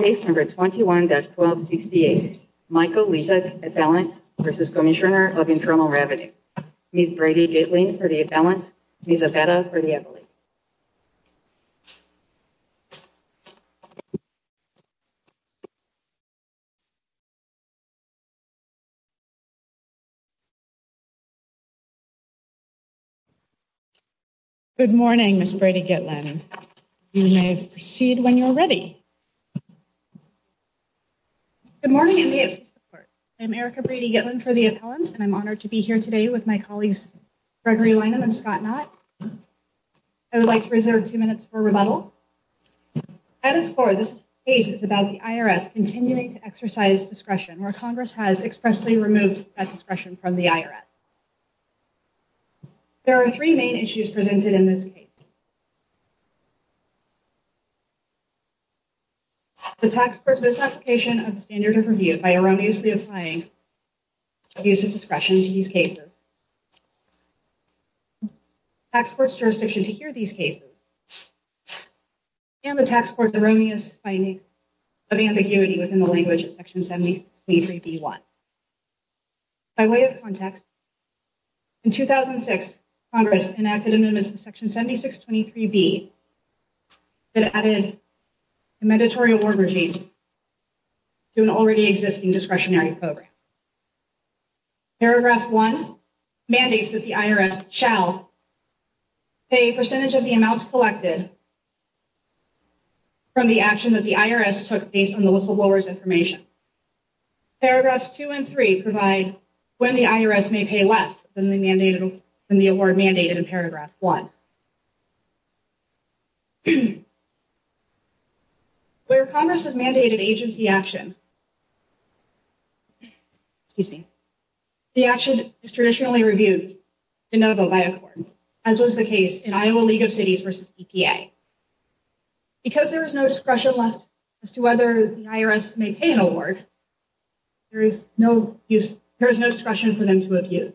Case number 21-1268, Michael Lissack, appellant v. Cmsnr of Internal Revenue. Ms. Brady Gitlin for the appellant. Ms. Abeta for the appellate. Good morning, Ms. Brady Gitlin. You may proceed when you're ready. Good morning. I'm Erica Brady Gitlin for the appellant. And I'm honored to be here today with my colleagues Gregory Lynham and Scott Knott. I would like to reserve two minutes for rebuttal. Item four of this case is about the IRS continuing to exercise discretion, where Congress has expressly removed that discretion from the IRS. There are three main issues presented in this case. The tax court's misapplication of the standard of review by erroneously applying abuse of discretion to these cases. The tax court's jurisdiction to hear these cases. And the tax court's erroneous finding of ambiguity within the language of Section 7623B-1. By way of context, in 2006, Congress enacted amendments to Section 7623B that added a mandatory award regime to an already existing discretionary program. Paragraph one mandates that the IRS shall pay a percentage of the amounts collected from the action that the IRS took based on the whistleblower's information. Paragraphs two and three provide when the IRS may pay less than the award mandated in paragraph one. Where Congress has mandated agency action, the action is traditionally reviewed de novo by a court, as was the case in Iowa League of Cities v. EPA. Because there is no discretion left as to whether the IRS may pay an award, there is no discretion for them to abuse.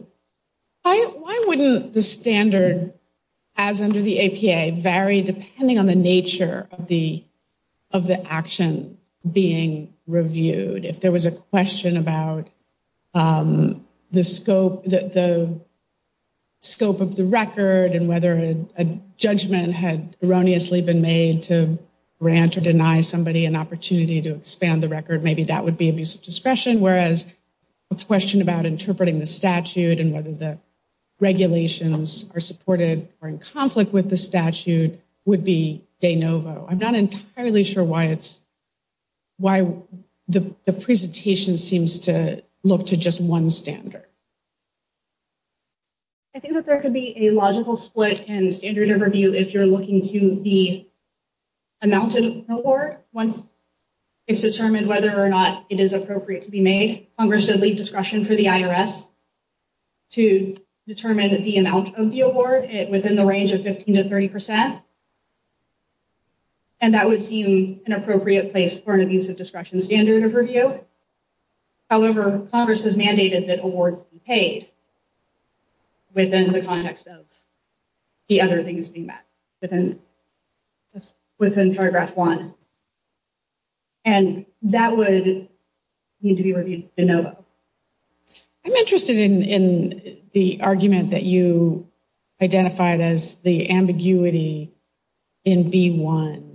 Why wouldn't the standard as under the EPA vary depending on the nature of the action being reviewed? If there was a question about the scope of the record and whether a judgment had erroneously been made to grant or deny somebody an opportunity to expand the record, maybe that would be abuse of discretion. Whereas a question about interpreting the statute and whether the regulations are supported or in conflict with the statute would be de novo. I'm not entirely sure why the presentation seems to look to just one standard. I think that there could be a logical split in standard of review if you're looking to the amount of the award. Once it's determined whether or not it is appropriate to be made, Congress should leave discretion for the IRS to determine the amount of the award within the range of 15 to 30 percent. And that would seem an appropriate place for an abuse of discretion standard of review. However, Congress has mandated that awards be paid within the context of the other things being met, within paragraph one. And that would need to be reviewed de novo. I'm interested in the argument that you identified as the ambiguity in B1.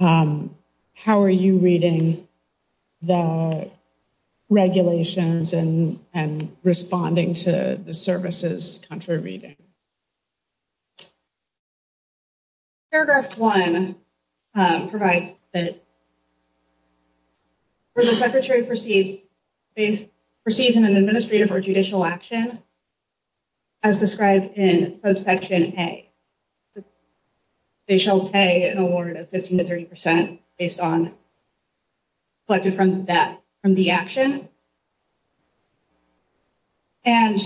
How are you reading the regulations and responding to the services contra reading? Paragraph one provides that where the secretary proceeds in an administrative or judicial action, as described in subsection A, they shall pay an award of 15 to 30 percent based on collected from the action. And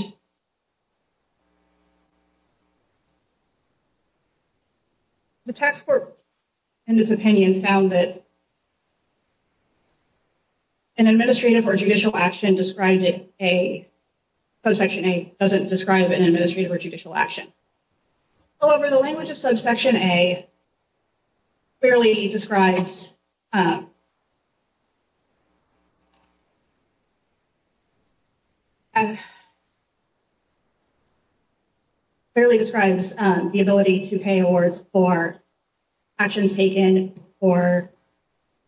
the tax court, in this opinion, found that an administrative or judicial action described it, a subsection A doesn't describe an administrative or judicial action. Over the language of subsection A. Clearly describes. Describes the ability to pay awards for actions taken or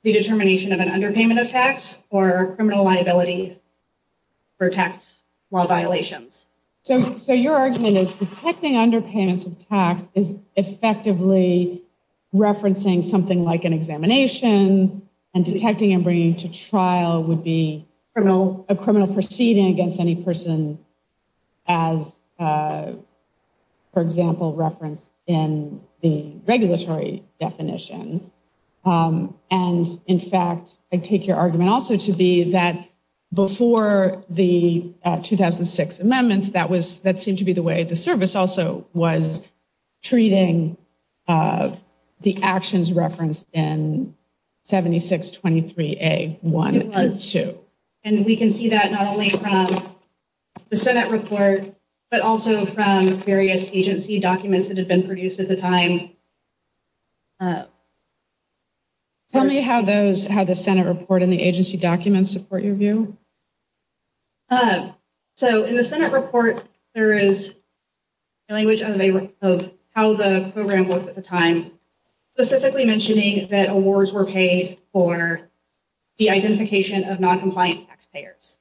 the determination of an underpayment of tax or criminal liability for tax law violations. So so your argument is detecting underpayments of tax is effectively referencing something like an examination and detecting and bringing to trial would be criminal. A criminal proceeding against any person. As, for example, reference in the regulatory definition. And in fact, I take your argument also to be that before the 2006 amendments, that was that seemed to be the way the service also was treating the actions referenced in 7623A1 and 2. And we can see that not only from the Senate report, but also from various agency documents that have been produced at the time. Tell me how those how the Senate report in the agency documents support your view. So in the Senate report, there is. Language of how the program was at the time. Specifically mentioning that awards were paid for the identification of noncompliant taxpayers.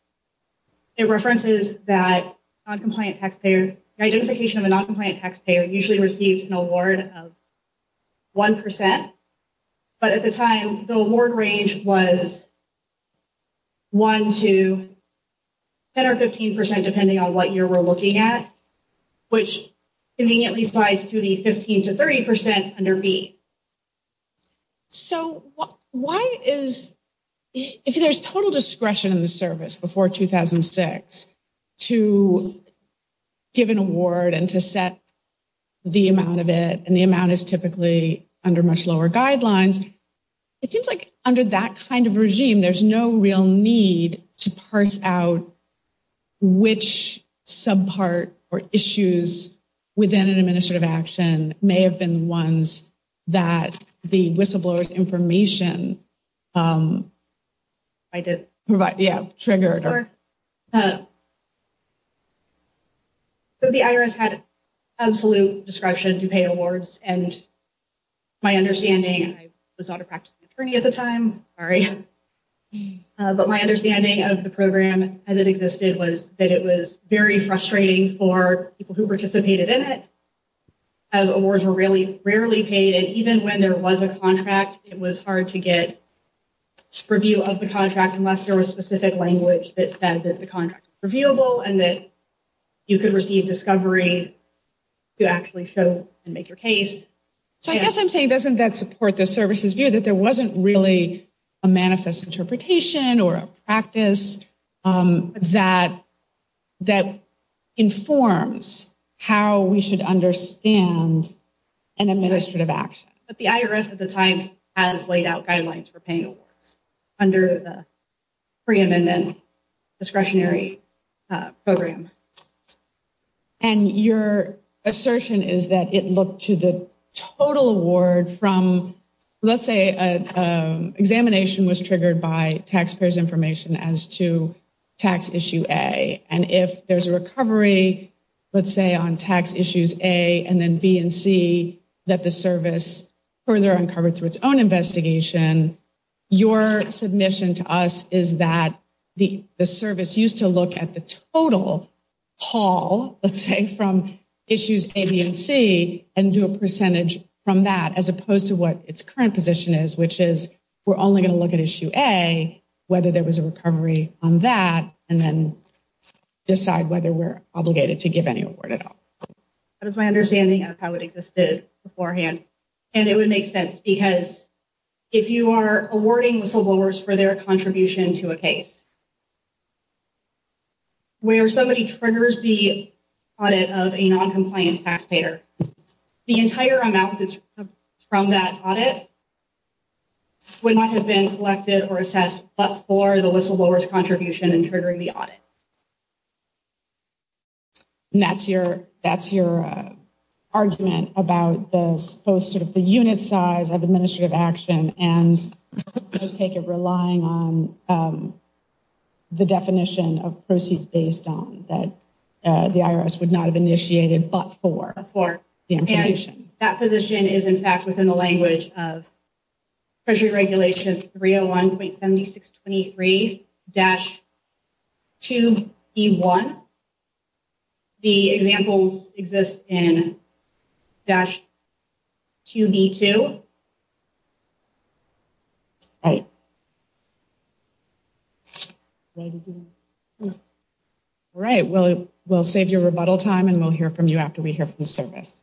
It references that noncompliant taxpayer identification of a noncompliant taxpayer usually received an award of. One percent. But at the time, the award range was. One to. 10 or 15 percent, depending on what you're looking at. Which conveniently slides to the 15 to 30 percent under B. So why is if there's total discretion in the service before 2006 to. Give an award and to set the amount of it and the amount is typically under much lower guidelines. It seems like under that kind of regime, there's no real need to parse out. Which sub part or issues within an administrative action may have been ones that the whistleblowers information. I did provide the trigger. So the IRS had absolute discretion to pay awards and. My understanding was not a practice attorney at the time. All right. But my understanding of the program as it existed was that it was very frustrating for people who participated in it. As awards were really rarely paid, and even when there was a contract, it was hard to get. Review of the contract, unless there was specific language that said that the contract reviewable and that you could receive discovery. You actually still make your case, so I guess I'm saying doesn't that support the services view that there wasn't really a manifest interpretation or a practice that. That informs how we should understand an administrative action. But the IRS at the time has laid out guidelines for paying awards under the preeminent discretionary program. And your assertion is that it looked to the total award from, let's say, an examination was triggered by taxpayers information as to tax issue a. And if there's a recovery, let's say, on tax issues, a, and then B and C, that the service further uncovered through its own investigation. Your submission to us is that the service used to look at the total haul, let's say, from issues A, B and C and do a percentage from that as opposed to what its current position is, which is. We're only going to look at issue a, whether there was a recovery on that, and then decide whether we're obligated to give any award at all. That is my understanding of how it existed beforehand, and it would make sense because if you are awarding whistleblowers for their contribution to a case. Where somebody triggers the audit of a noncompliant taxpayer, the entire amount from that audit. Would not have been collected or assessed, but for the whistleblowers contribution and triggering the audit. And that's your argument about the unit size of administrative action, and I take it relying on the definition of proceeds based on that the IRS would not have initiated but for the information. That position is, in fact, within the language of Treasury Regulation 301.7623-2B1. The examples exist in dash 2B2. All right. All right, well, we'll save your rebuttal time and we'll hear from you after we hear from the service.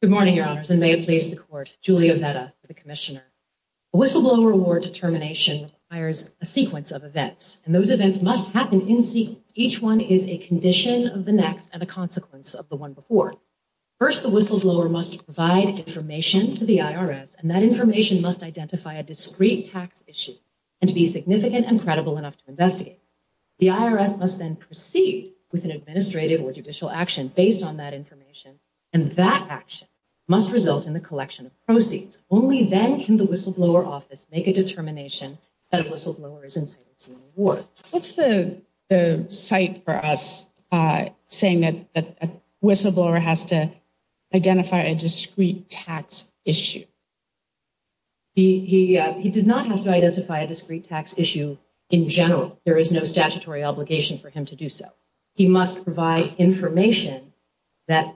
Good morning, your honors, and may it please the court. Julia Vetta, the commissioner. A whistleblower award determination requires a sequence of events, and those events must happen in sequence. Each one is a condition of the next and a consequence of the one before. First, the whistleblower must provide information to the IRS, and that information must identify a discrete tax issue and to be significant and credible enough to investigate. The IRS must then proceed with an administrative or judicial action based on that information, and that action must result in the collection of proceeds. Only then can the whistleblower office make a determination that a whistleblower is entitled to an award. What's the cite for us saying that a whistleblower has to identify a discrete tax issue? He does not have to identify a discrete tax issue in general. There is no statutory obligation for him to do so. He must provide information that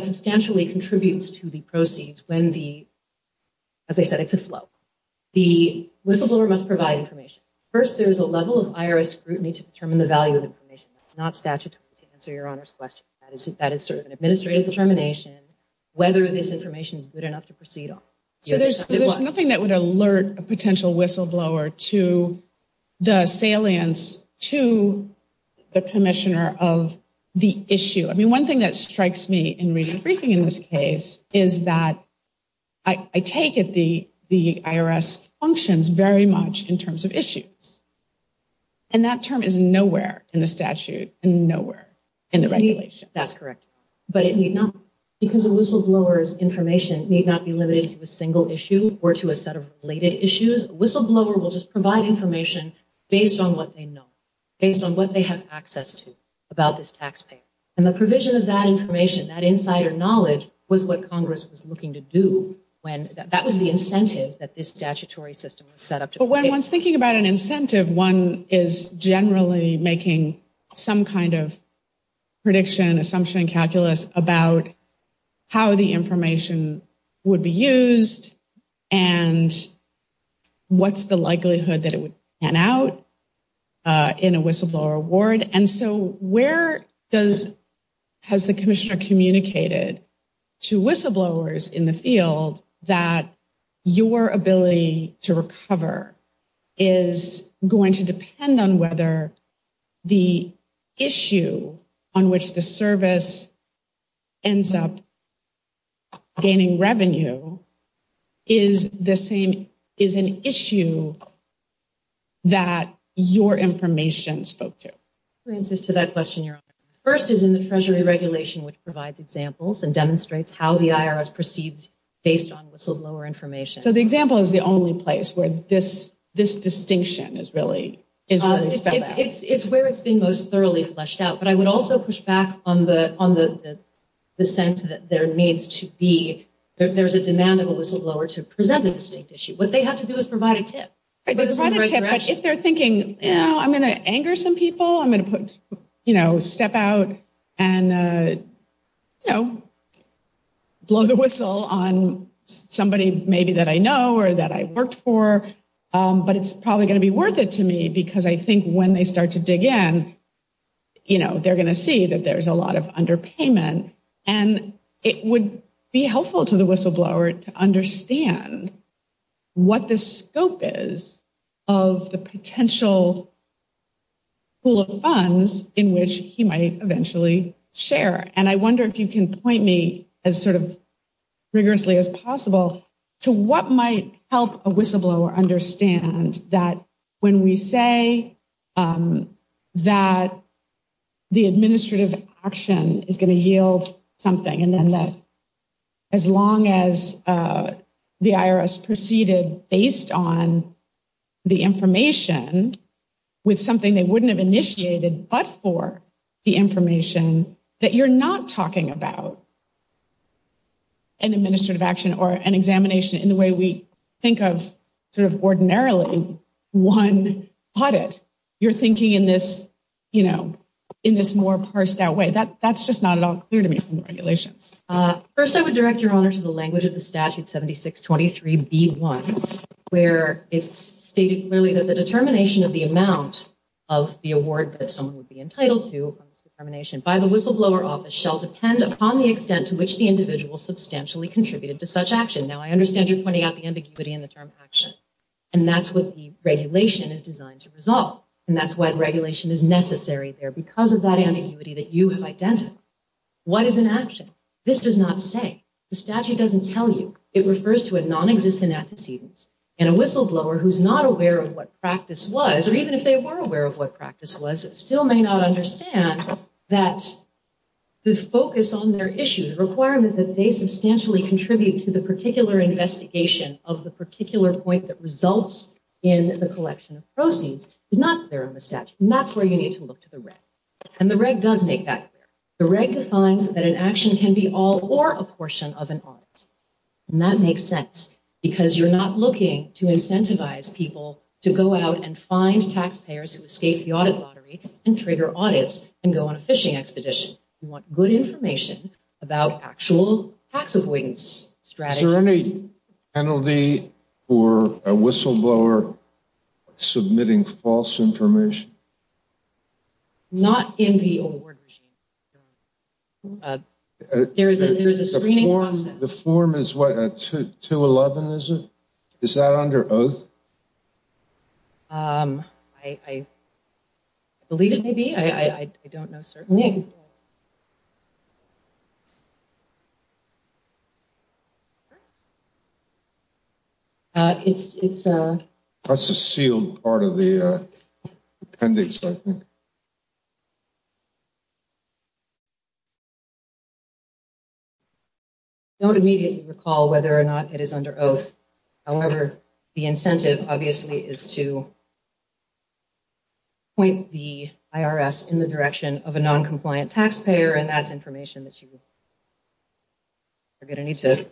substantially contributes to the proceeds when the, as I said, it's a flow. The whistleblower must provide information. First, there is a level of IRS scrutiny to determine the value of information. That's not statutory to answer your honors' question. That is sort of an administrative determination whether this information is good enough to proceed on. So there's nothing that would alert a potential whistleblower to the salience to the commissioner of the issue. I mean, one thing that strikes me in reading the briefing in this case is that I take it the IRS functions very much in terms of issues. And that term is nowhere in the statute and nowhere in the regulations. That's correct. Because a whistleblower's information need not be limited to a single issue or to a set of related issues. A whistleblower will just provide information based on what they know, based on what they have access to about this taxpayer. And the provision of that information, that insider knowledge, was what Congress was looking to do. That was the incentive that this statutory system was set up to pay. But when one's thinking about an incentive, one is generally making some kind of prediction, assumption, and calculus about how the information would be used and what's the likelihood that it would pan out in a whistleblower award. And so where has the commissioner communicated to whistleblowers in the field that your ability to recover is going to depend on whether the issue on which the service ends up gaining revenue is the same, is an issue that your information spoke to? It answers to that question. First is in the Treasury regulation, which provides examples and demonstrates how the IRS proceeds based on whistleblower information. So the example is the only place where this distinction is really spelled out. It's where it's being most thoroughly fleshed out. But I would also push back on the sense that there needs to be, that there's a demand of a whistleblower to present a distinct issue. What they have to do is provide a tip. But if they're thinking, you know, I'm going to anger some people. I'm going to step out and blow the whistle on somebody maybe that I know or that I've worked for. But it's probably going to be worth it to me because I think when they start to dig in, they're going to see that there's a lot of underpayment. And it would be helpful to the whistleblower to understand what the scope is of the potential pool of funds in which he might eventually share. And I wonder if you can point me as sort of rigorously as possible to what might help a whistleblower understand that when we say that the administrative action is going to yield something. And then that as long as the IRS proceeded based on the information with something they wouldn't have initiated but for the information that you're not talking about. An administrative action or an examination in the way we think of sort of ordinarily one audit. You're thinking in this, you know, in this more parsed out way. That's just not at all clear to me from the regulations. First, I would direct your honor to the language of the statute 7623B1 where it's stated clearly that the determination of the amount of the award that someone would be entitled to upon this determination by the whistleblower office shall depend upon the extent to which the individual substantially contributed to such action. Now, I understand you're pointing out the ambiguity in the term action. And that's what the regulation is designed to resolve. And that's why the regulation is necessary there because of that ambiguity that you have identified. What is an action? This does not say. The statute doesn't tell you. It refers to a nonexistent antecedent. And a whistleblower who's not aware of what practice was, or even if they were aware of what practice was, still may not understand that the focus on their issue, the requirement that they substantially contribute to the particular investigation of the particular point that results in the collection of proceeds, is not there in the statute. And that's where you need to look to the reg. And the reg does make that clear. The reg defines that an action can be all or a portion of an audit. And that makes sense because you're not looking to incentivize people to go out and find taxpayers who escape the audit lottery and trigger audits and go on a fishing expedition. You want good information about actual tax avoidance strategies. Is there any penalty for a whistleblower submitting false information? Not in the award regime. There is a screening process. The form is what? 211, is it? Is that under oath? I believe it may be. I don't know. Certainly. It's a sealed part of the appendix. I don't immediately recall whether or not it is under oath. However, the incentive, obviously, is to point the IRS in the direction of a noncompliant taxpayer. And that's information that you are going to need to.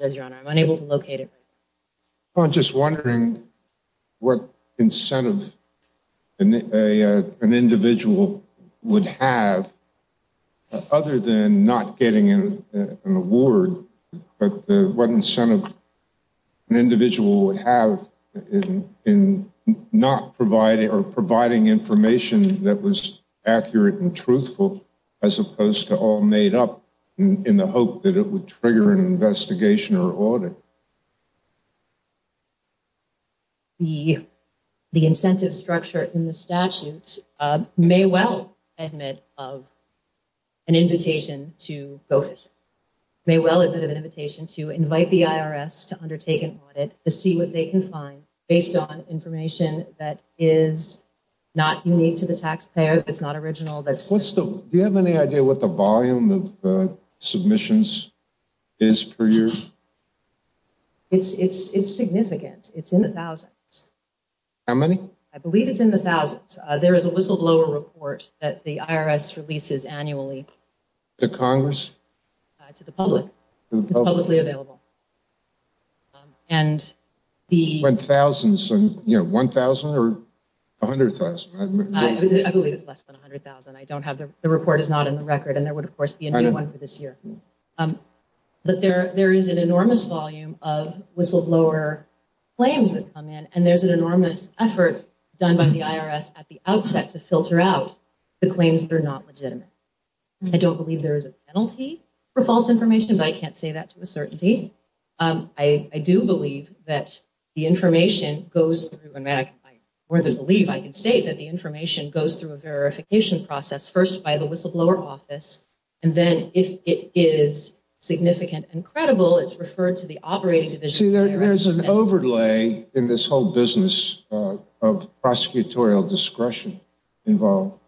I'm unable to locate it. I'm just wondering what incentive an individual would have other than not getting an award. The incentive structure in the statute may well admit of an invitation to go fishing. It may well admit of an invitation to invite the IRS to undertake an audit to see what they can find based on information that is not unique to the taxpayer, that's not original. Do you have any idea what the volume of submissions is per year? It's significant. It's in the thousands. How many? I believe it's in the thousands. There is a whistleblower report that the IRS releases annually. To Congress? To the public. It's publicly available. One thousand? One thousand or a hundred thousand? I believe it's less than a hundred thousand. The report is not in the record and there would, of course, be a new one for this year. There is an enormous volume of whistleblower claims that come in and there is an enormous effort done by the IRS at the outset to filter out the claims that are not legitimate. I don't believe there is a penalty for false information, but I can't say that to a certainty. I do believe that the information goes through a verification process, first by the whistleblower office, and then if it is significant and credible, it's referred to the operating division. There is an overlay in this whole business of prosecutorial discretion involved.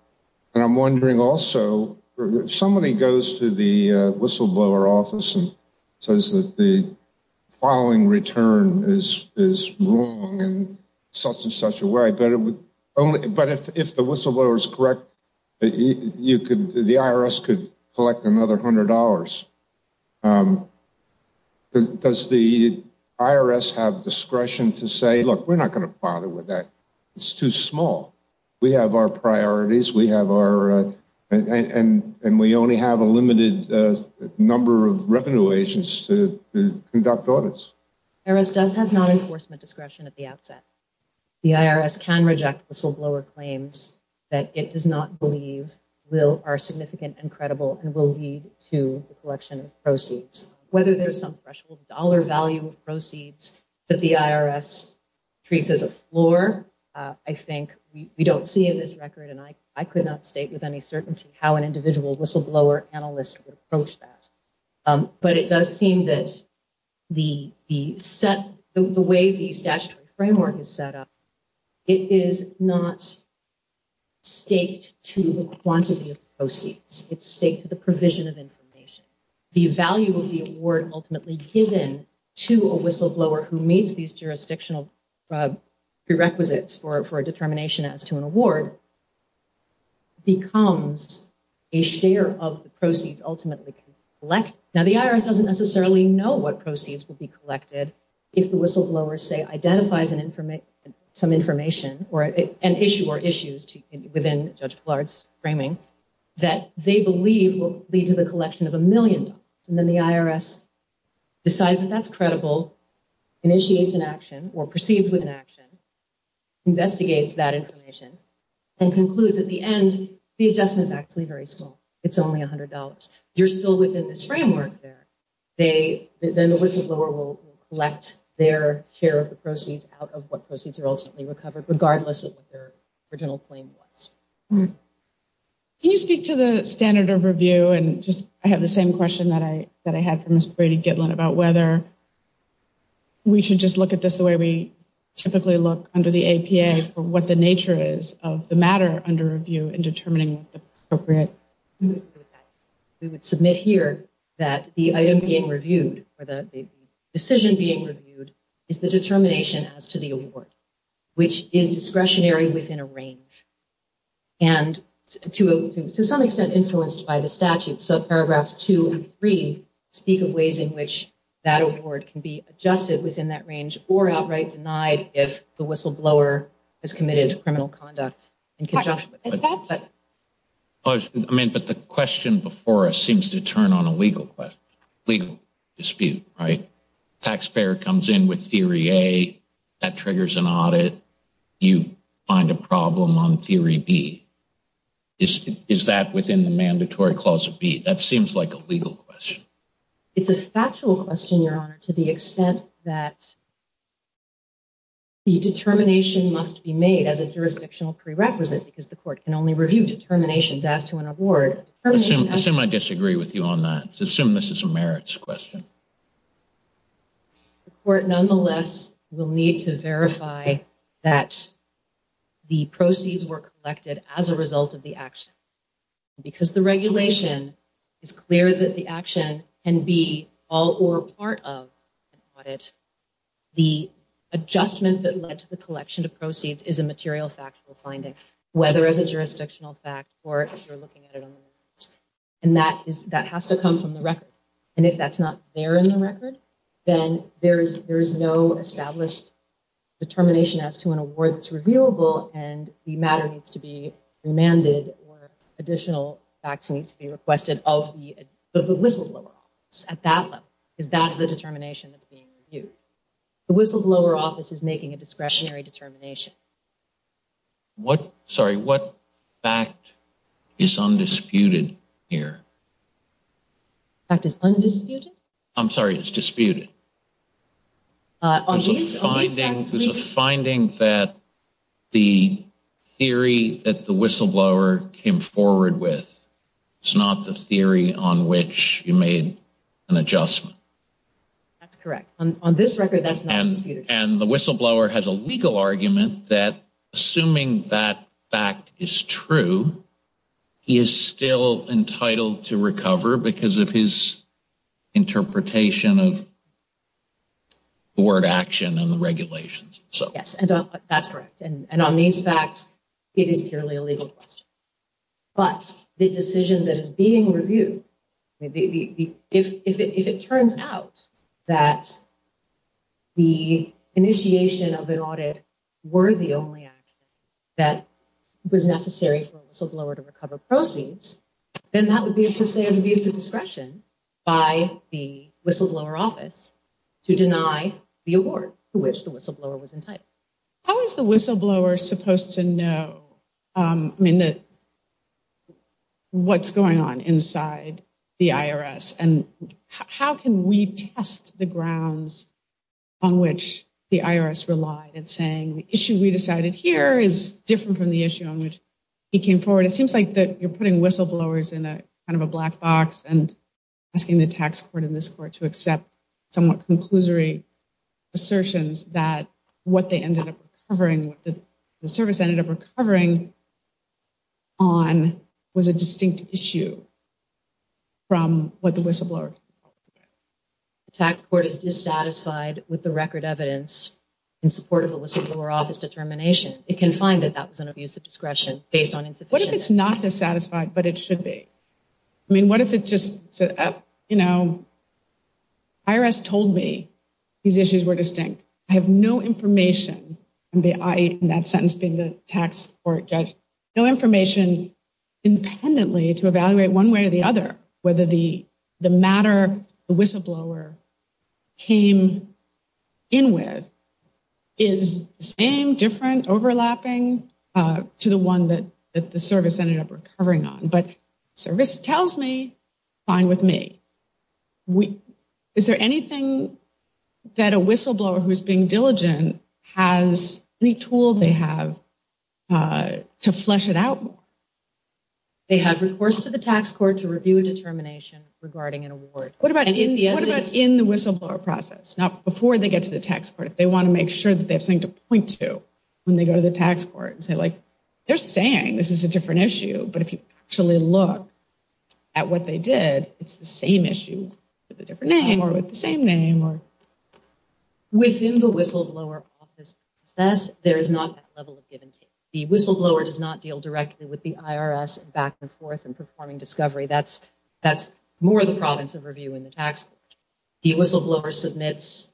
I'm wondering also, if somebody goes to the whistleblower office and says that the following return is wrong in such and such a way, but if the whistleblower is correct, the IRS could collect another hundred dollars. Does the IRS have discretion to say, look, we're not going to bother with that. It's too small. We have our priorities, and we only have a limited number of revenue agents to conduct audits. The IRS does have non-enforcement discretion at the outset. The IRS can reject whistleblower claims that it does not believe are significant and credible and will lead to the collection of proceeds. Whether there's some threshold dollar value of proceeds that the IRS treats as a floor, I think we don't see in this record, and I could not state with any certainty how an individual whistleblower analyst would approach that. But it does seem that the way the statutory framework is set up, it is not staked to the quantity of proceeds. It's staked to the provision of information. And the value of the award ultimately given to a whistleblower who meets these jurisdictional prerequisites for a determination as to an award becomes a share of the proceeds ultimately collected. Now, the IRS doesn't necessarily know what proceeds will be collected if the whistleblower, say, identifies some information or an issue or issues within Judge Blard's framing that they believe will lead to the collection of a million dollars. And then the IRS decides that that's credible, initiates an action or proceeds with an action, investigates that information, and concludes at the end the adjustment is actually very small. It's only $100. You're still within this framework there. Then the whistleblower will collect their share of the proceeds out of what proceeds are ultimately recovered, regardless of what their original claim was. Can you speak to the standard of review? And I have the same question that I had for Ms. Brady-Gitlin about whether we should just look at this the way we typically look under the APA for what the nature is of the matter under review in determining what's appropriate. We would submit here that the item being reviewed or the decision being reviewed is the determination as to the award, which is discretionary within a range. And to some extent influenced by the statute, paragraphs two and three speak of ways in which that award can be adjusted within that range or outright denied if the whistleblower has committed criminal conduct in conjunction with that. I mean, but the question before us seems to turn on a legal dispute, right? Taxpayer comes in with theory A, that triggers an audit, you find a problem on theory B. Is that within the mandatory clause of B? That seems like a legal question. It's a factual question, Your Honor, to the extent that the determination must be made as a jurisdictional prerequisite because the court can only review determinations as to an award. Assume I disagree with you on that. Assume this is a merits question. The court, nonetheless, will need to verify that the proceeds were collected as a result of the action. Because the regulation is clear that the action can be all or part of an audit, the adjustment that led to the collection of proceeds is a material factual finding, whether as a jurisdictional fact or if you're looking at it on the merits. And that has to come from the record. And if that's not there in the record, then there is no established determination as to an award that's reviewable and the matter needs to be remanded or additional facts need to be requested of the whistleblower at that level. Because that's the determination that's being reviewed. The whistleblower office is making a discretionary determination. Sorry, what fact is undisputed here? Fact is undisputed? I'm sorry, it's disputed. There's a finding that the theory that the whistleblower came forward with is not the theory on which you made an adjustment. That's correct. On this record, that's not disputed. And the whistleblower has a legal argument that, assuming that fact is true, he is still entitled to recover because of his interpretation of the word action and the regulations. Yes, that's correct. And on these facts, it is purely a legal question. But the decision that is being reviewed, if it turns out that the initiation of an audit were the only action that was necessary for a whistleblower to recover proceeds, then that would be a discretion by the whistleblower office to deny the award to which the whistleblower was entitled. How is the whistleblower supposed to know what's going on inside the IRS? And how can we test the grounds on which the IRS relied in saying the issue we decided here is different from the issue on which he came forward? It seems like you're putting whistleblowers in kind of a black box and asking the tax court in this court to accept somewhat conclusory assertions that what they ended up recovering, what the service ended up recovering on, was a distinct issue from what the whistleblower came forward with. The tax court is dissatisfied with the record evidence in support of a whistleblower office determination. It can find that that was an abuse of discretion based on insufficient evidence. What if it's not dissatisfied, but it should be? I mean, what if it just said, you know, IRS told me these issues were distinct. I have no information, in that sentence being the tax court judge, no information independently to evaluate one way or the other whether the matter the whistleblower came in with is the same, different, overlapping to the one that the service ended up recovering on. But the service tells me, fine with me. Is there anything that a whistleblower who is being diligent has, any tool they have to flesh it out more? They have recourse to the tax court to review a determination regarding an award. What about in the whistleblower process? Now, before they get to the tax court, if they want to make sure that they have something to point to when they go to the tax court and say, like, they're saying this is a different issue. But if you actually look at what they did, it's the same issue with a different name or with the same name. Within the whistleblower office process, there is not that level of give and take. The whistleblower does not deal directly with the IRS back and forth in performing discovery. That's more the province of review in the tax court. The whistleblower submits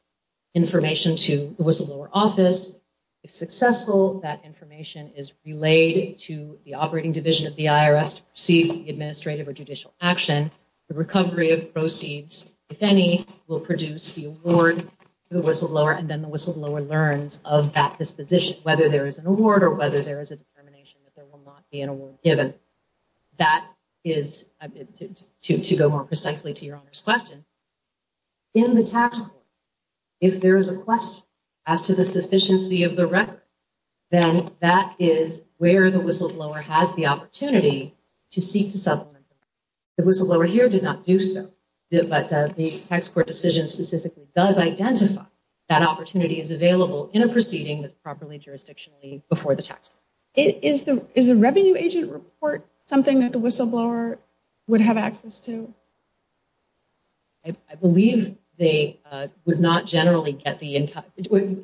information to the whistleblower office. If successful, that information is relayed to the operating division of the IRS to proceed with the administrative or judicial action. The recovery of proceeds, if any, will produce the award to the whistleblower. And then the whistleblower learns of that disposition, whether there is an award or whether there is a determination that there will not be an award given. That is, to go more precisely to Your Honor's question, in the tax court, if there is a question as to the sufficiency of the record, then that is where the whistleblower has the opportunity to seek to supplement. The whistleblower here did not do so. But the tax court decision specifically does identify that opportunity is available in a proceeding that's properly jurisdictionally before the tax court. Is the is the revenue agent report something that the whistleblower would have access to? I believe they would not generally get the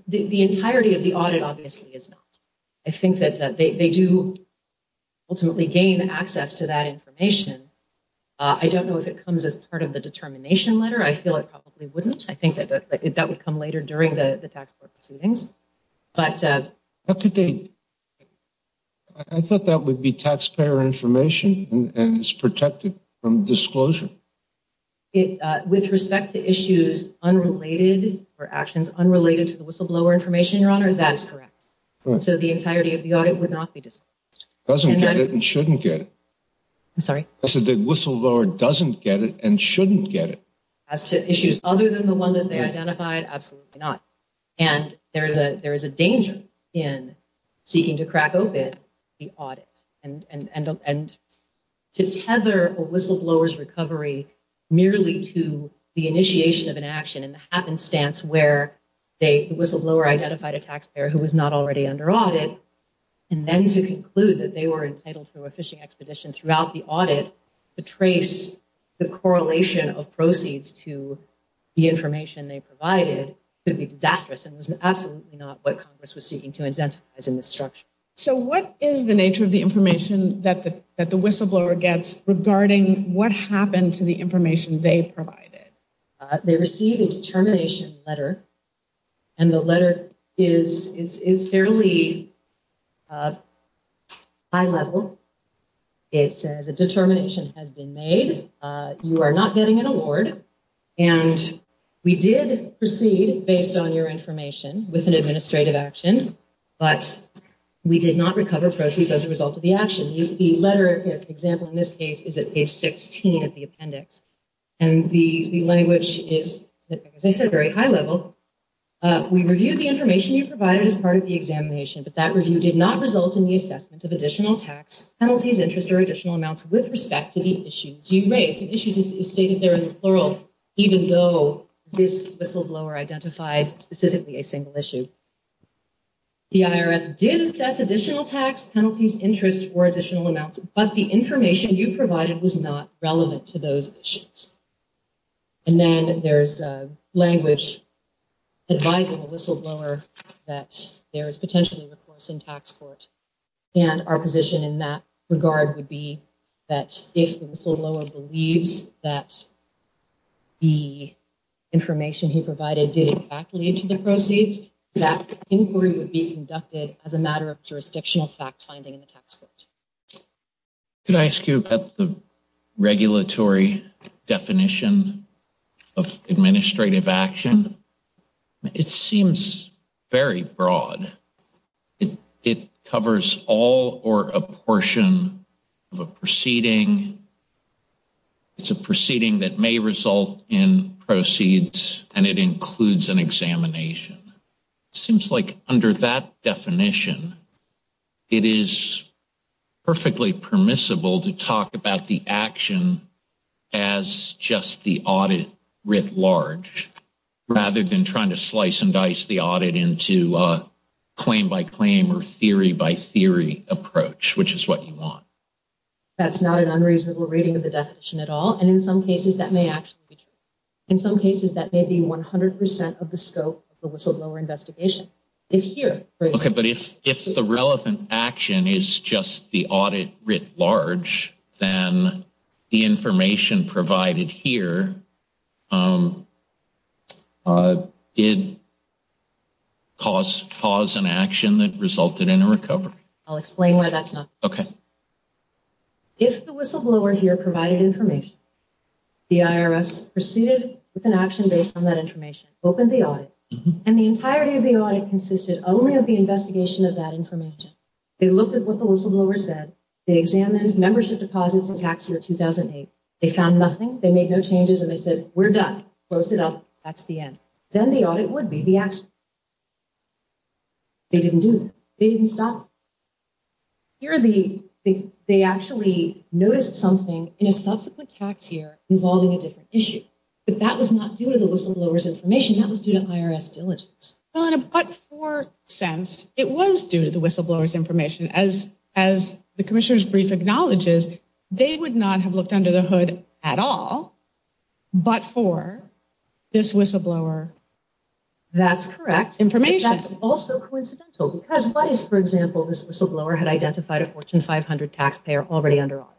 the entirety of the audit, obviously, is not. I think that they do ultimately gain access to that information. I don't know if it comes as part of the determination letter. I feel it probably wouldn't. I think that that would come later during the tax proceedings. But how could they? I thought that would be taxpayer information and is protected from disclosure. It with respect to issues unrelated or actions unrelated to the whistleblower information, Your Honor. That is correct. So the entirety of the audit would not be disclosed. Doesn't get it and shouldn't get it. I'm sorry. I said that whistleblower doesn't get it and shouldn't get it. As to issues other than the one that they identified. Absolutely not. And there is a there is a danger in seeking to crack open the audit and to tether a whistleblower's recovery merely to the initiation of an action in the happenstance where they whistleblower identified a taxpayer who was not already under audit. And then to conclude that they were entitled to a fishing expedition throughout the audit to trace the correlation of proceeds to the information they provided could be disastrous and was absolutely not what Congress was seeking to incentivize in this structure. So what is the nature of the information that the that the whistleblower gets regarding what happened to the information they provided? They receive a determination letter and the letter is fairly high level. It says a determination has been made. You are not getting an award. And we did proceed based on your information with an administrative action, but we did not recover proceeds as a result of the action. The letter example in this case is at page 16 of the appendix. And the language is, as I said, very high level. We reviewed the information you provided as part of the examination, but that review did not result in the assessment of additional tax penalties, interest or additional amounts with respect to the issues you raised. The issues is stated there in the plural, even though this whistleblower identified specifically a single issue. The IRS did assess additional tax penalties, interest or additional amounts, but the information you provided was not relevant to those issues. And then there's language advising a whistleblower that there is potentially recourse in tax court. And our position in that regard would be that if the whistleblower believes that the information he provided did in fact lead to the proceeds, that inquiry would be conducted as a matter of jurisdictional fact finding in the tax court. Could I ask you about the regulatory definition of administrative action? It seems very broad. It covers all or a portion of a proceeding. It's a proceeding that may result in proceeds, and it includes an examination. It seems like under that definition, it is perfectly permissible to talk about the action as just the audit writ large, rather than trying to slice and dice the audit into a claim by claim or theory by theory approach, which is what you want. That's not an unreasonable reading of the definition at all. And in some cases, that may actually be true. In some cases, that may be 100% of the scope of the whistleblower investigation. Okay, but if the relevant action is just the audit writ large, then the information provided here did cause an action that resulted in a recovery. I'll explain why that's not. Okay. If the whistleblower here provided information, the IRS proceeded with an action based on that information, opened the audit, and the entirety of the audit consisted only of the investigation of that information. They looked at what the whistleblower said. They examined membership deposits in tax year 2008. They found nothing. They made no changes, and they said, we're done. Close it up. That's the end. Then the audit would be the action. They didn't do that. They actually noticed something in a subsequent tax year involving a different issue. But that was not due to the whistleblower's information. That was due to IRS diligence. But for sense, it was due to the whistleblower's information. As the commissioner's brief acknowledges, they would not have looked under the hood at all but for this whistleblower's information. That's correct. That's also coincidental because what if, for example, this whistleblower had identified a Fortune 500 taxpayer already under audit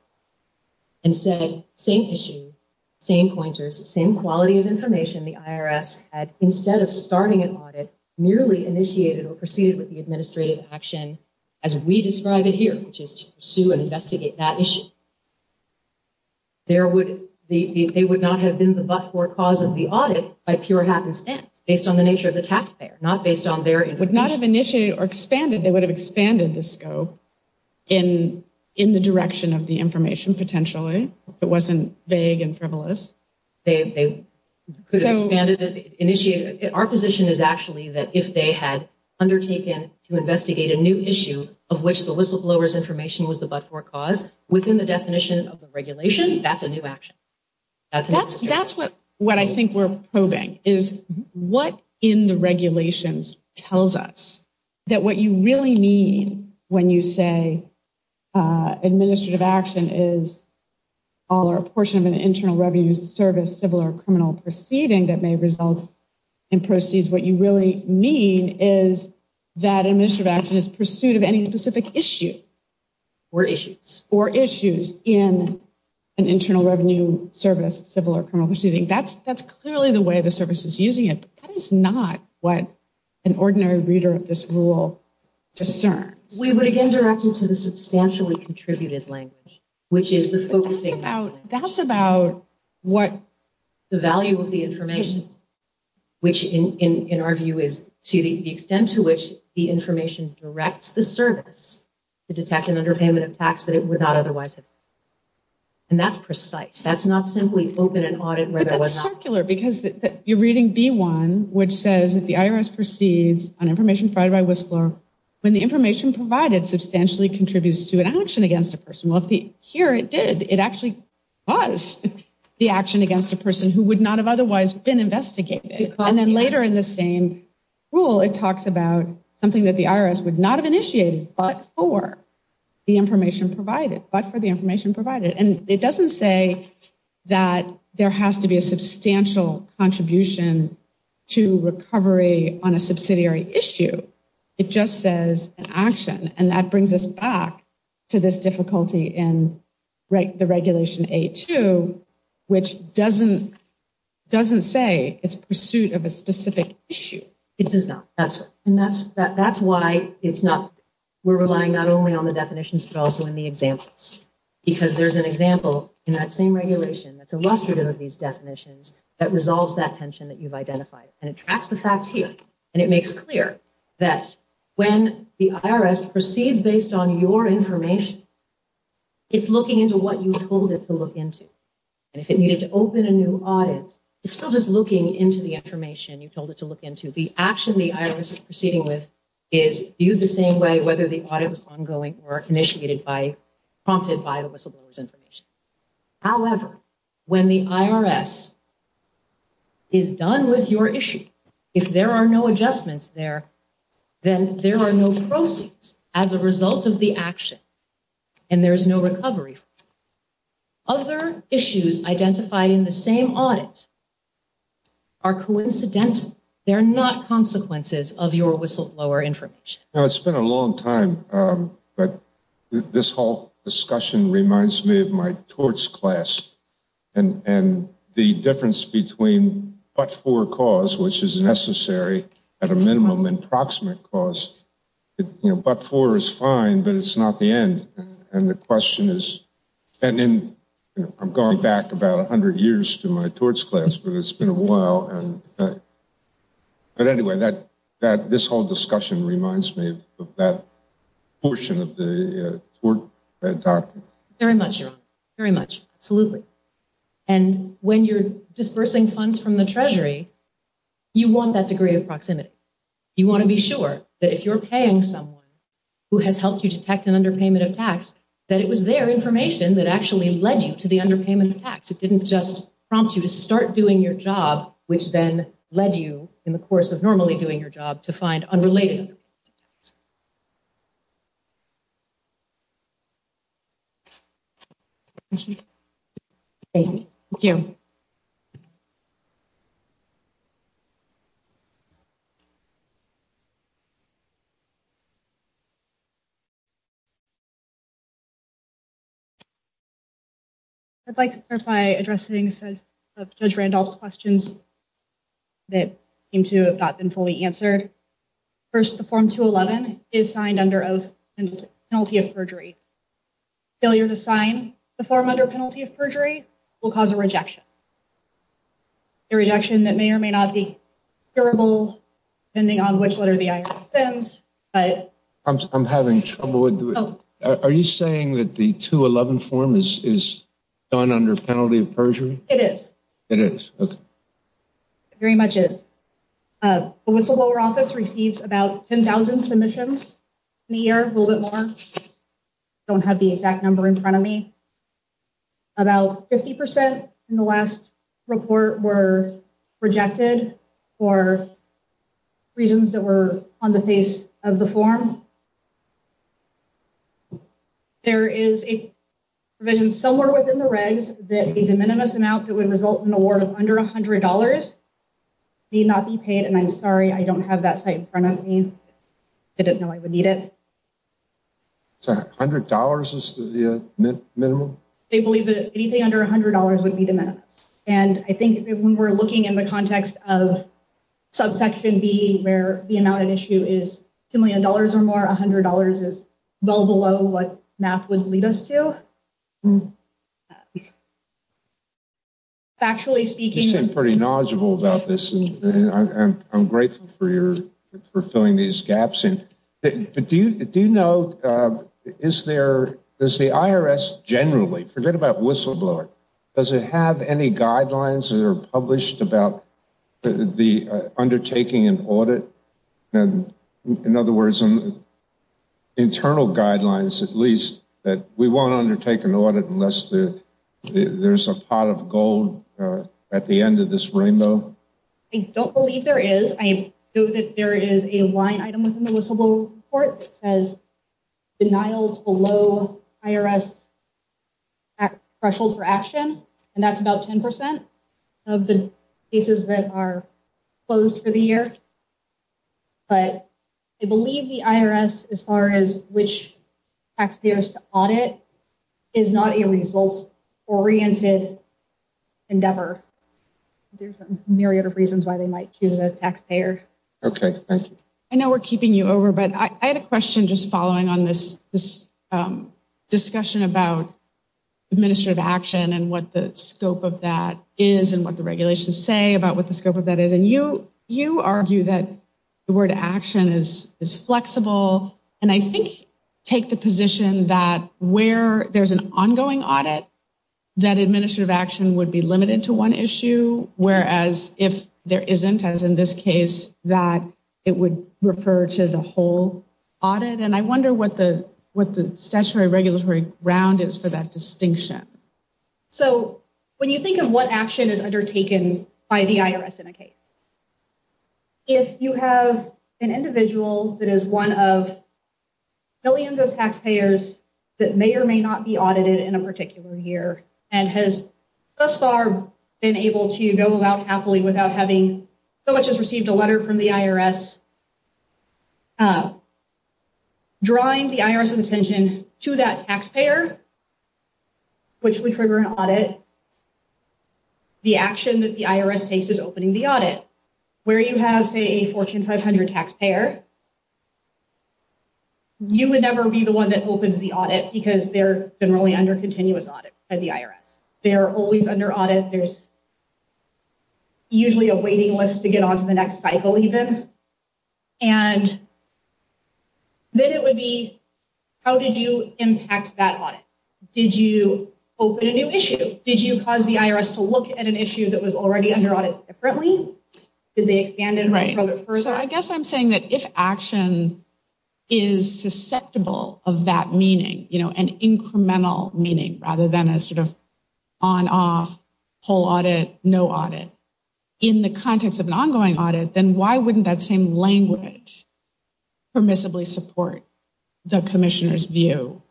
and said, same issue, same pointers, same quality of information. The IRS had, instead of starting an audit, merely initiated or proceeded with the administrative action as we describe it here, which is to pursue and investigate that issue. They would not have been the but-for cause of the audit by pure happenstance, based on the nature of the taxpayer, not based on their information. Would not have initiated or expanded. They would have expanded the scope in the direction of the information, potentially, if it wasn't vague and frivolous. Our position is actually that if they had undertaken to investigate a new issue of which the whistleblower's information was the but-for cause, within the definition of the regulation, that's a new action. That's what I think we're probing, is what in the regulations tells us that what you really mean when you say administrative action is all or a portion of an internal revenue service, civil or criminal proceeding that may result in proceeds. What you really mean is that administrative action is pursuit of any specific issue. Or issues. Or issues in an internal revenue service, civil or criminal proceeding. That's clearly the way the service is using it. That is not what an ordinary reader of this rule discerns. We would, again, direct them to the substantially contributed language, which is the focusing language. That's about what? The value of the information. Which, in our view, is to the extent to which the information directs the service to detect an underpayment of tax that it would not otherwise have done. And that's precise. That's not simply open an audit where there was not. You're reading B1, which says that the IRS proceeds on information provided by Whistler when the information provided substantially contributes to an action against a person. Well, here it did. It actually was the action against a person who would not have otherwise been investigated. And then later in the same rule, it talks about something that the IRS would not have initiated but for the information provided. But for the information provided. And it doesn't say that there has to be a substantial contribution to recovery on a subsidiary issue. It just says an action. And that brings us back to this difficulty in the Regulation A-2, which doesn't say it's pursuit of a specific issue. It does not. And that's why it's not. We're relying not only on the definitions but also in the examples. Because there's an example in that same regulation that's illustrative of these definitions that resolves that tension that you've identified. And it tracks the facts here. And it makes clear that when the IRS proceeds based on your information, it's looking into what you told it to look into. And if it needed to open a new audit, it's still just looking into the information you told it to look into. The action the IRS is proceeding with is viewed the same way whether the audit was ongoing or initiated by, prompted by the whistleblower's information. However, when the IRS is done with your issue, if there are no adjustments there, then there are no proceeds as a result of the action. And there is no recovery. Other issues identified in the same audit are coincidental. And they're not consequences of your whistleblower information. It's been a long time, but this whole discussion reminds me of my torts class. And the difference between but-for cause, which is necessary at a minimum and proximate cause. But-for is fine, but it's not the end. And the question is, and I'm going back about 100 years to my torts class, but it's been a while. But anyway, this whole discussion reminds me of that portion of the tort doctrine. Very much, Your Honor. Very much. Absolutely. And when you're dispersing funds from the Treasury, you want that degree of proximity. You want to be sure that if you're paying someone who has helped you detect an underpayment of tax, that it was their information that actually led you to the underpayment of tax. It didn't just prompt you to start doing your job, which then led you, in the course of normally doing your job, to find unrelated underpayments of tax. Thank you. I'd like to start by addressing Judge Randolph's questions that seem to have not been fully answered. First, the Form 211 is signed under oath and penalty of perjury. Failure to sign the form under penalty of perjury will cause a rejection. A rejection that may or may not be curable, depending on which letter the IRS sends. I'm having trouble. Are you saying that the 211 form is done under penalty of perjury? It is. It is. Very much is. The Whistleblower Office receives about 10,000 submissions in a year, a little bit more. I don't have the exact number in front of me. About 50% in the last report were rejected for reasons that were on the face of the form. There is a provision somewhere within the regs that a de minimis amount that would result in an award of under $100 need not be paid. And I'm sorry, I don't have that site in front of me. I didn't know I would need it. $100 is the minimum? They believe that anything under $100 would be de minimis. And I think when we're looking in the context of subsection B, where the amount at issue is $2 million or more, $100 is well below what math would lead us to. Factually speaking. You seem pretty knowledgeable about this. I'm grateful for filling these gaps in. But do you know, is there, does the IRS generally, forget about Whistleblower, does it have any guidelines that are published about the undertaking an audit? In other words, internal guidelines, at least, that we won't undertake an audit unless there's a pot of gold at the end of this rainbow? I don't believe there is. I know that there is a line item within the whistleblower report that says denials below IRS threshold for action. And that's about 10% of the cases that are closed for the year. But I believe the IRS, as far as which taxpayers to audit, is not a results-oriented endeavor. There's a myriad of reasons why they might choose a taxpayer. Okay, thank you. I know we're keeping you over, but I had a question just following on this discussion about administrative action and what the scope of that is and what the regulations say about what the scope of that is. And you argue that the word action is flexible, and I think take the position that where there's an ongoing audit, that administrative action would be limited to one issue. Whereas if there isn't, as in this case, that it would refer to the whole audit. And I wonder what the statutory regulatory ground is for that distinction. So when you think of what action is undertaken by the IRS in a case, if you have an individual that is one of millions of taxpayers that may or may not be audited in a particular year and has thus far been able to go about happily without having so much as received a letter from the IRS, drawing the IRS's attention to that taxpayer, which would trigger an audit, the action that the IRS takes is opening the audit. Where you have, say, a Fortune 500 taxpayer, you would never be the one that opens the audit because they're generally under continuous audit by the IRS. They're always under audit. There's usually a waiting list to get on to the next cycle even. And then it would be, how did you impact that audit? Did you open a new issue? Did you cause the IRS to look at an issue that was already under audit differently? Did they expand it further? So I guess I'm saying that if action is susceptible of that meaning, an incremental meaning rather than a sort of on-off, whole audit, no audit, in the context of an ongoing audit, then why wouldn't that same language permissibly support the commissioner's view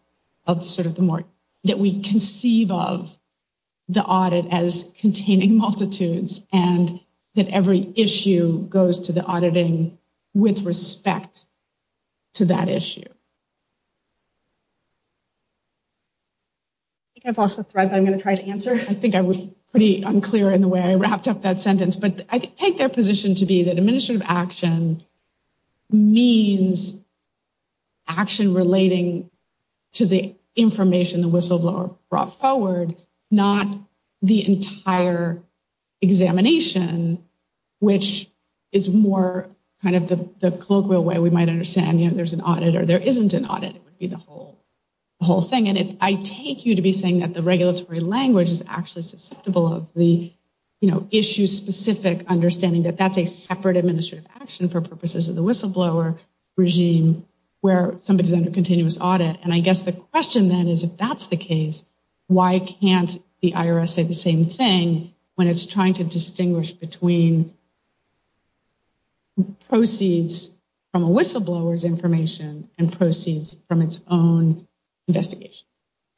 of sort of the more, that we conceive of the audit as containing multitudes and that every issue goes to the auditing with respect to that issue. I think I've lost the thread, but I'm going to try to answer. I think I was pretty unclear in the way I wrapped up that sentence. But I take their position to be that administrative action means action relating to the information the whistleblower brought forward, not the entire examination, which is more kind of the colloquial way we might understand. There's an audit or there isn't an audit. It would be the whole thing. And I take you to be saying that the regulatory language is actually susceptible of the issue-specific understanding that that's a separate administrative action for purposes of the whistleblower regime where somebody is under continuous audit. And I guess the question then is if that's the case, why can't the IRS say the same thing when it's trying to distinguish between proceeds from a whistleblower's information and proceeds from its own investigation?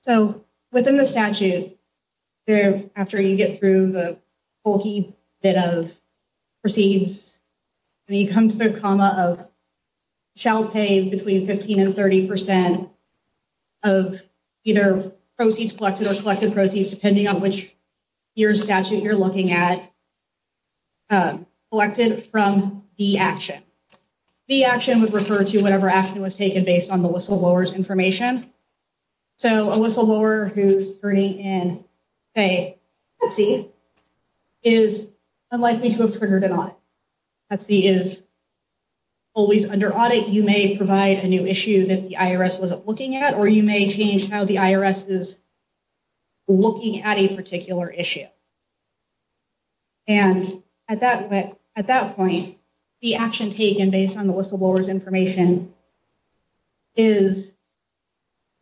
So, within the statute, after you get through the bulky bit of proceeds, you come to the comma of shall pay between 15% and 30% of either proceeds collected or collected proceeds, depending on which statute you're looking at, collected from the action. The action would refer to whatever action was taken based on the whistleblower's information. So, a whistleblower who's turning in, say, Pepsi, is unlikely to have triggered an audit. Pepsi is always under audit. You may provide a new issue that the IRS wasn't looking at, or you may change how the IRS is looking at a particular issue. And at that point, the action taken based on the whistleblower's information is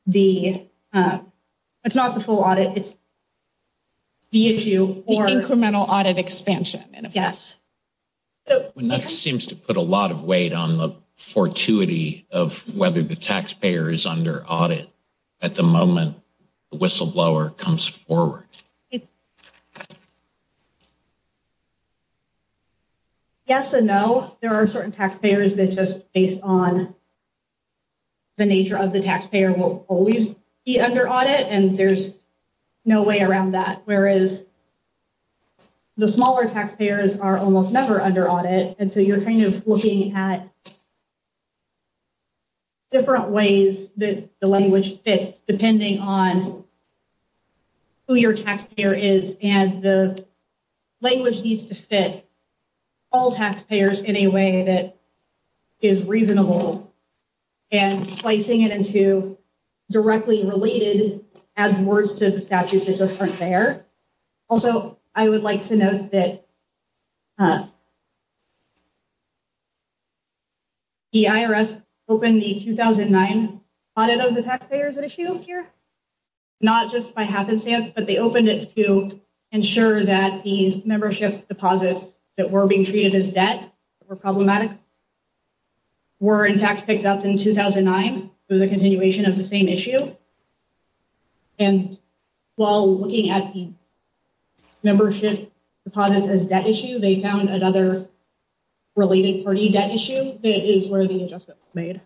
the, it's not the full audit, it's the issue. The incremental audit expansion. Yes. And that seems to put a lot of weight on the fortuity of whether the taxpayer is under audit at the moment the whistleblower comes forward. Yes and no. There are certain taxpayers that just based on the nature of the taxpayer will always be under audit, and there's no way around that. Whereas the smaller taxpayers are almost never under audit. And so you're kind of looking at different ways that the language fits, depending on who your taxpayer is, and the language needs to fit all taxpayers in a way that is reasonable. And slicing it into directly related adds words to the statute that just aren't there. Also, I would like to note that the IRS opened the 2009 audit of the taxpayers at issue here. Not just by happenstance, but they opened it to ensure that the membership deposits that were being treated as debt were problematic. That were, in fact, picked up in 2009 through the continuation of the same issue. And while looking at the membership deposits as debt issue, they found another related party debt issue that is where the adjustment was made.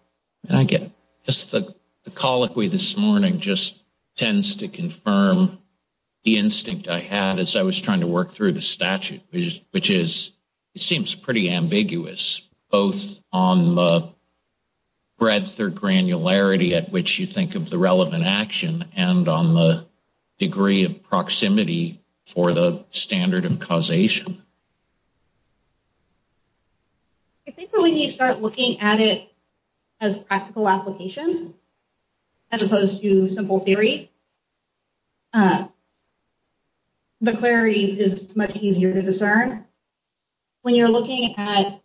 I get it. Just the colloquy this morning just tends to confirm the instinct I had as I was trying to work through the statute. Which is, it seems pretty ambiguous, both on the breadth or granularity at which you think of the relevant action and on the degree of proximity for the standard of causation. I think that when you start looking at it as a practical application, as opposed to simple theory, the clarity is much easier to discern. When you're looking at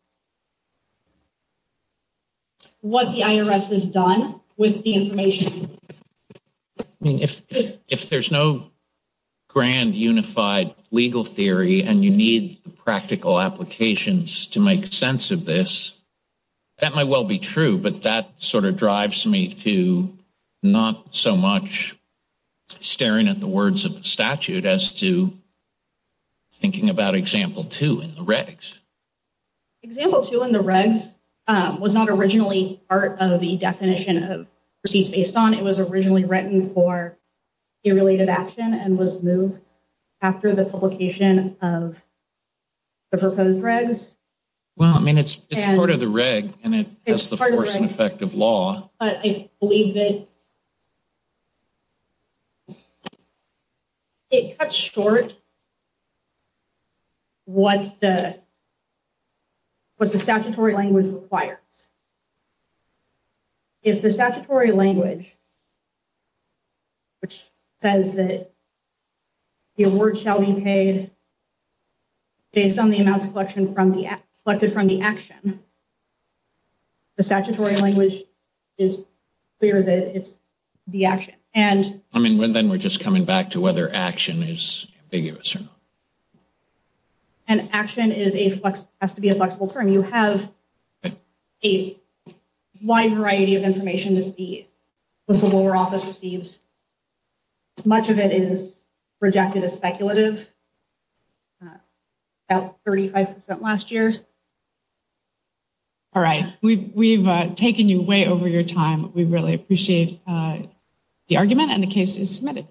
what the IRS has done with the information. If there's no grand unified legal theory and you need the practical applications to make sense of this, that might well be true. But that sort of drives me to not so much staring at the words of the statute as to thinking about example two in the regs. Example two in the regs was not originally part of the definition of proceeds based on. It was originally written for a related action and was moved after the publication of the proposed regs. Well, I mean, it's part of the reg and it has the force and effect of law. But I believe that it cuts short what the statutory language requires. If the statutory language, which says that the award shall be paid based on the amounts collected from the action, the statutory language is clear that it's the action. I mean, then we're just coming back to whether action is ambiguous or not. And action has to be a flexible term. You have a wide variety of information that the civil law office receives. Much of it is projected as speculative. About 35% last year. All right. We've taken you way over your time. We really appreciate the argument and the case is submitted.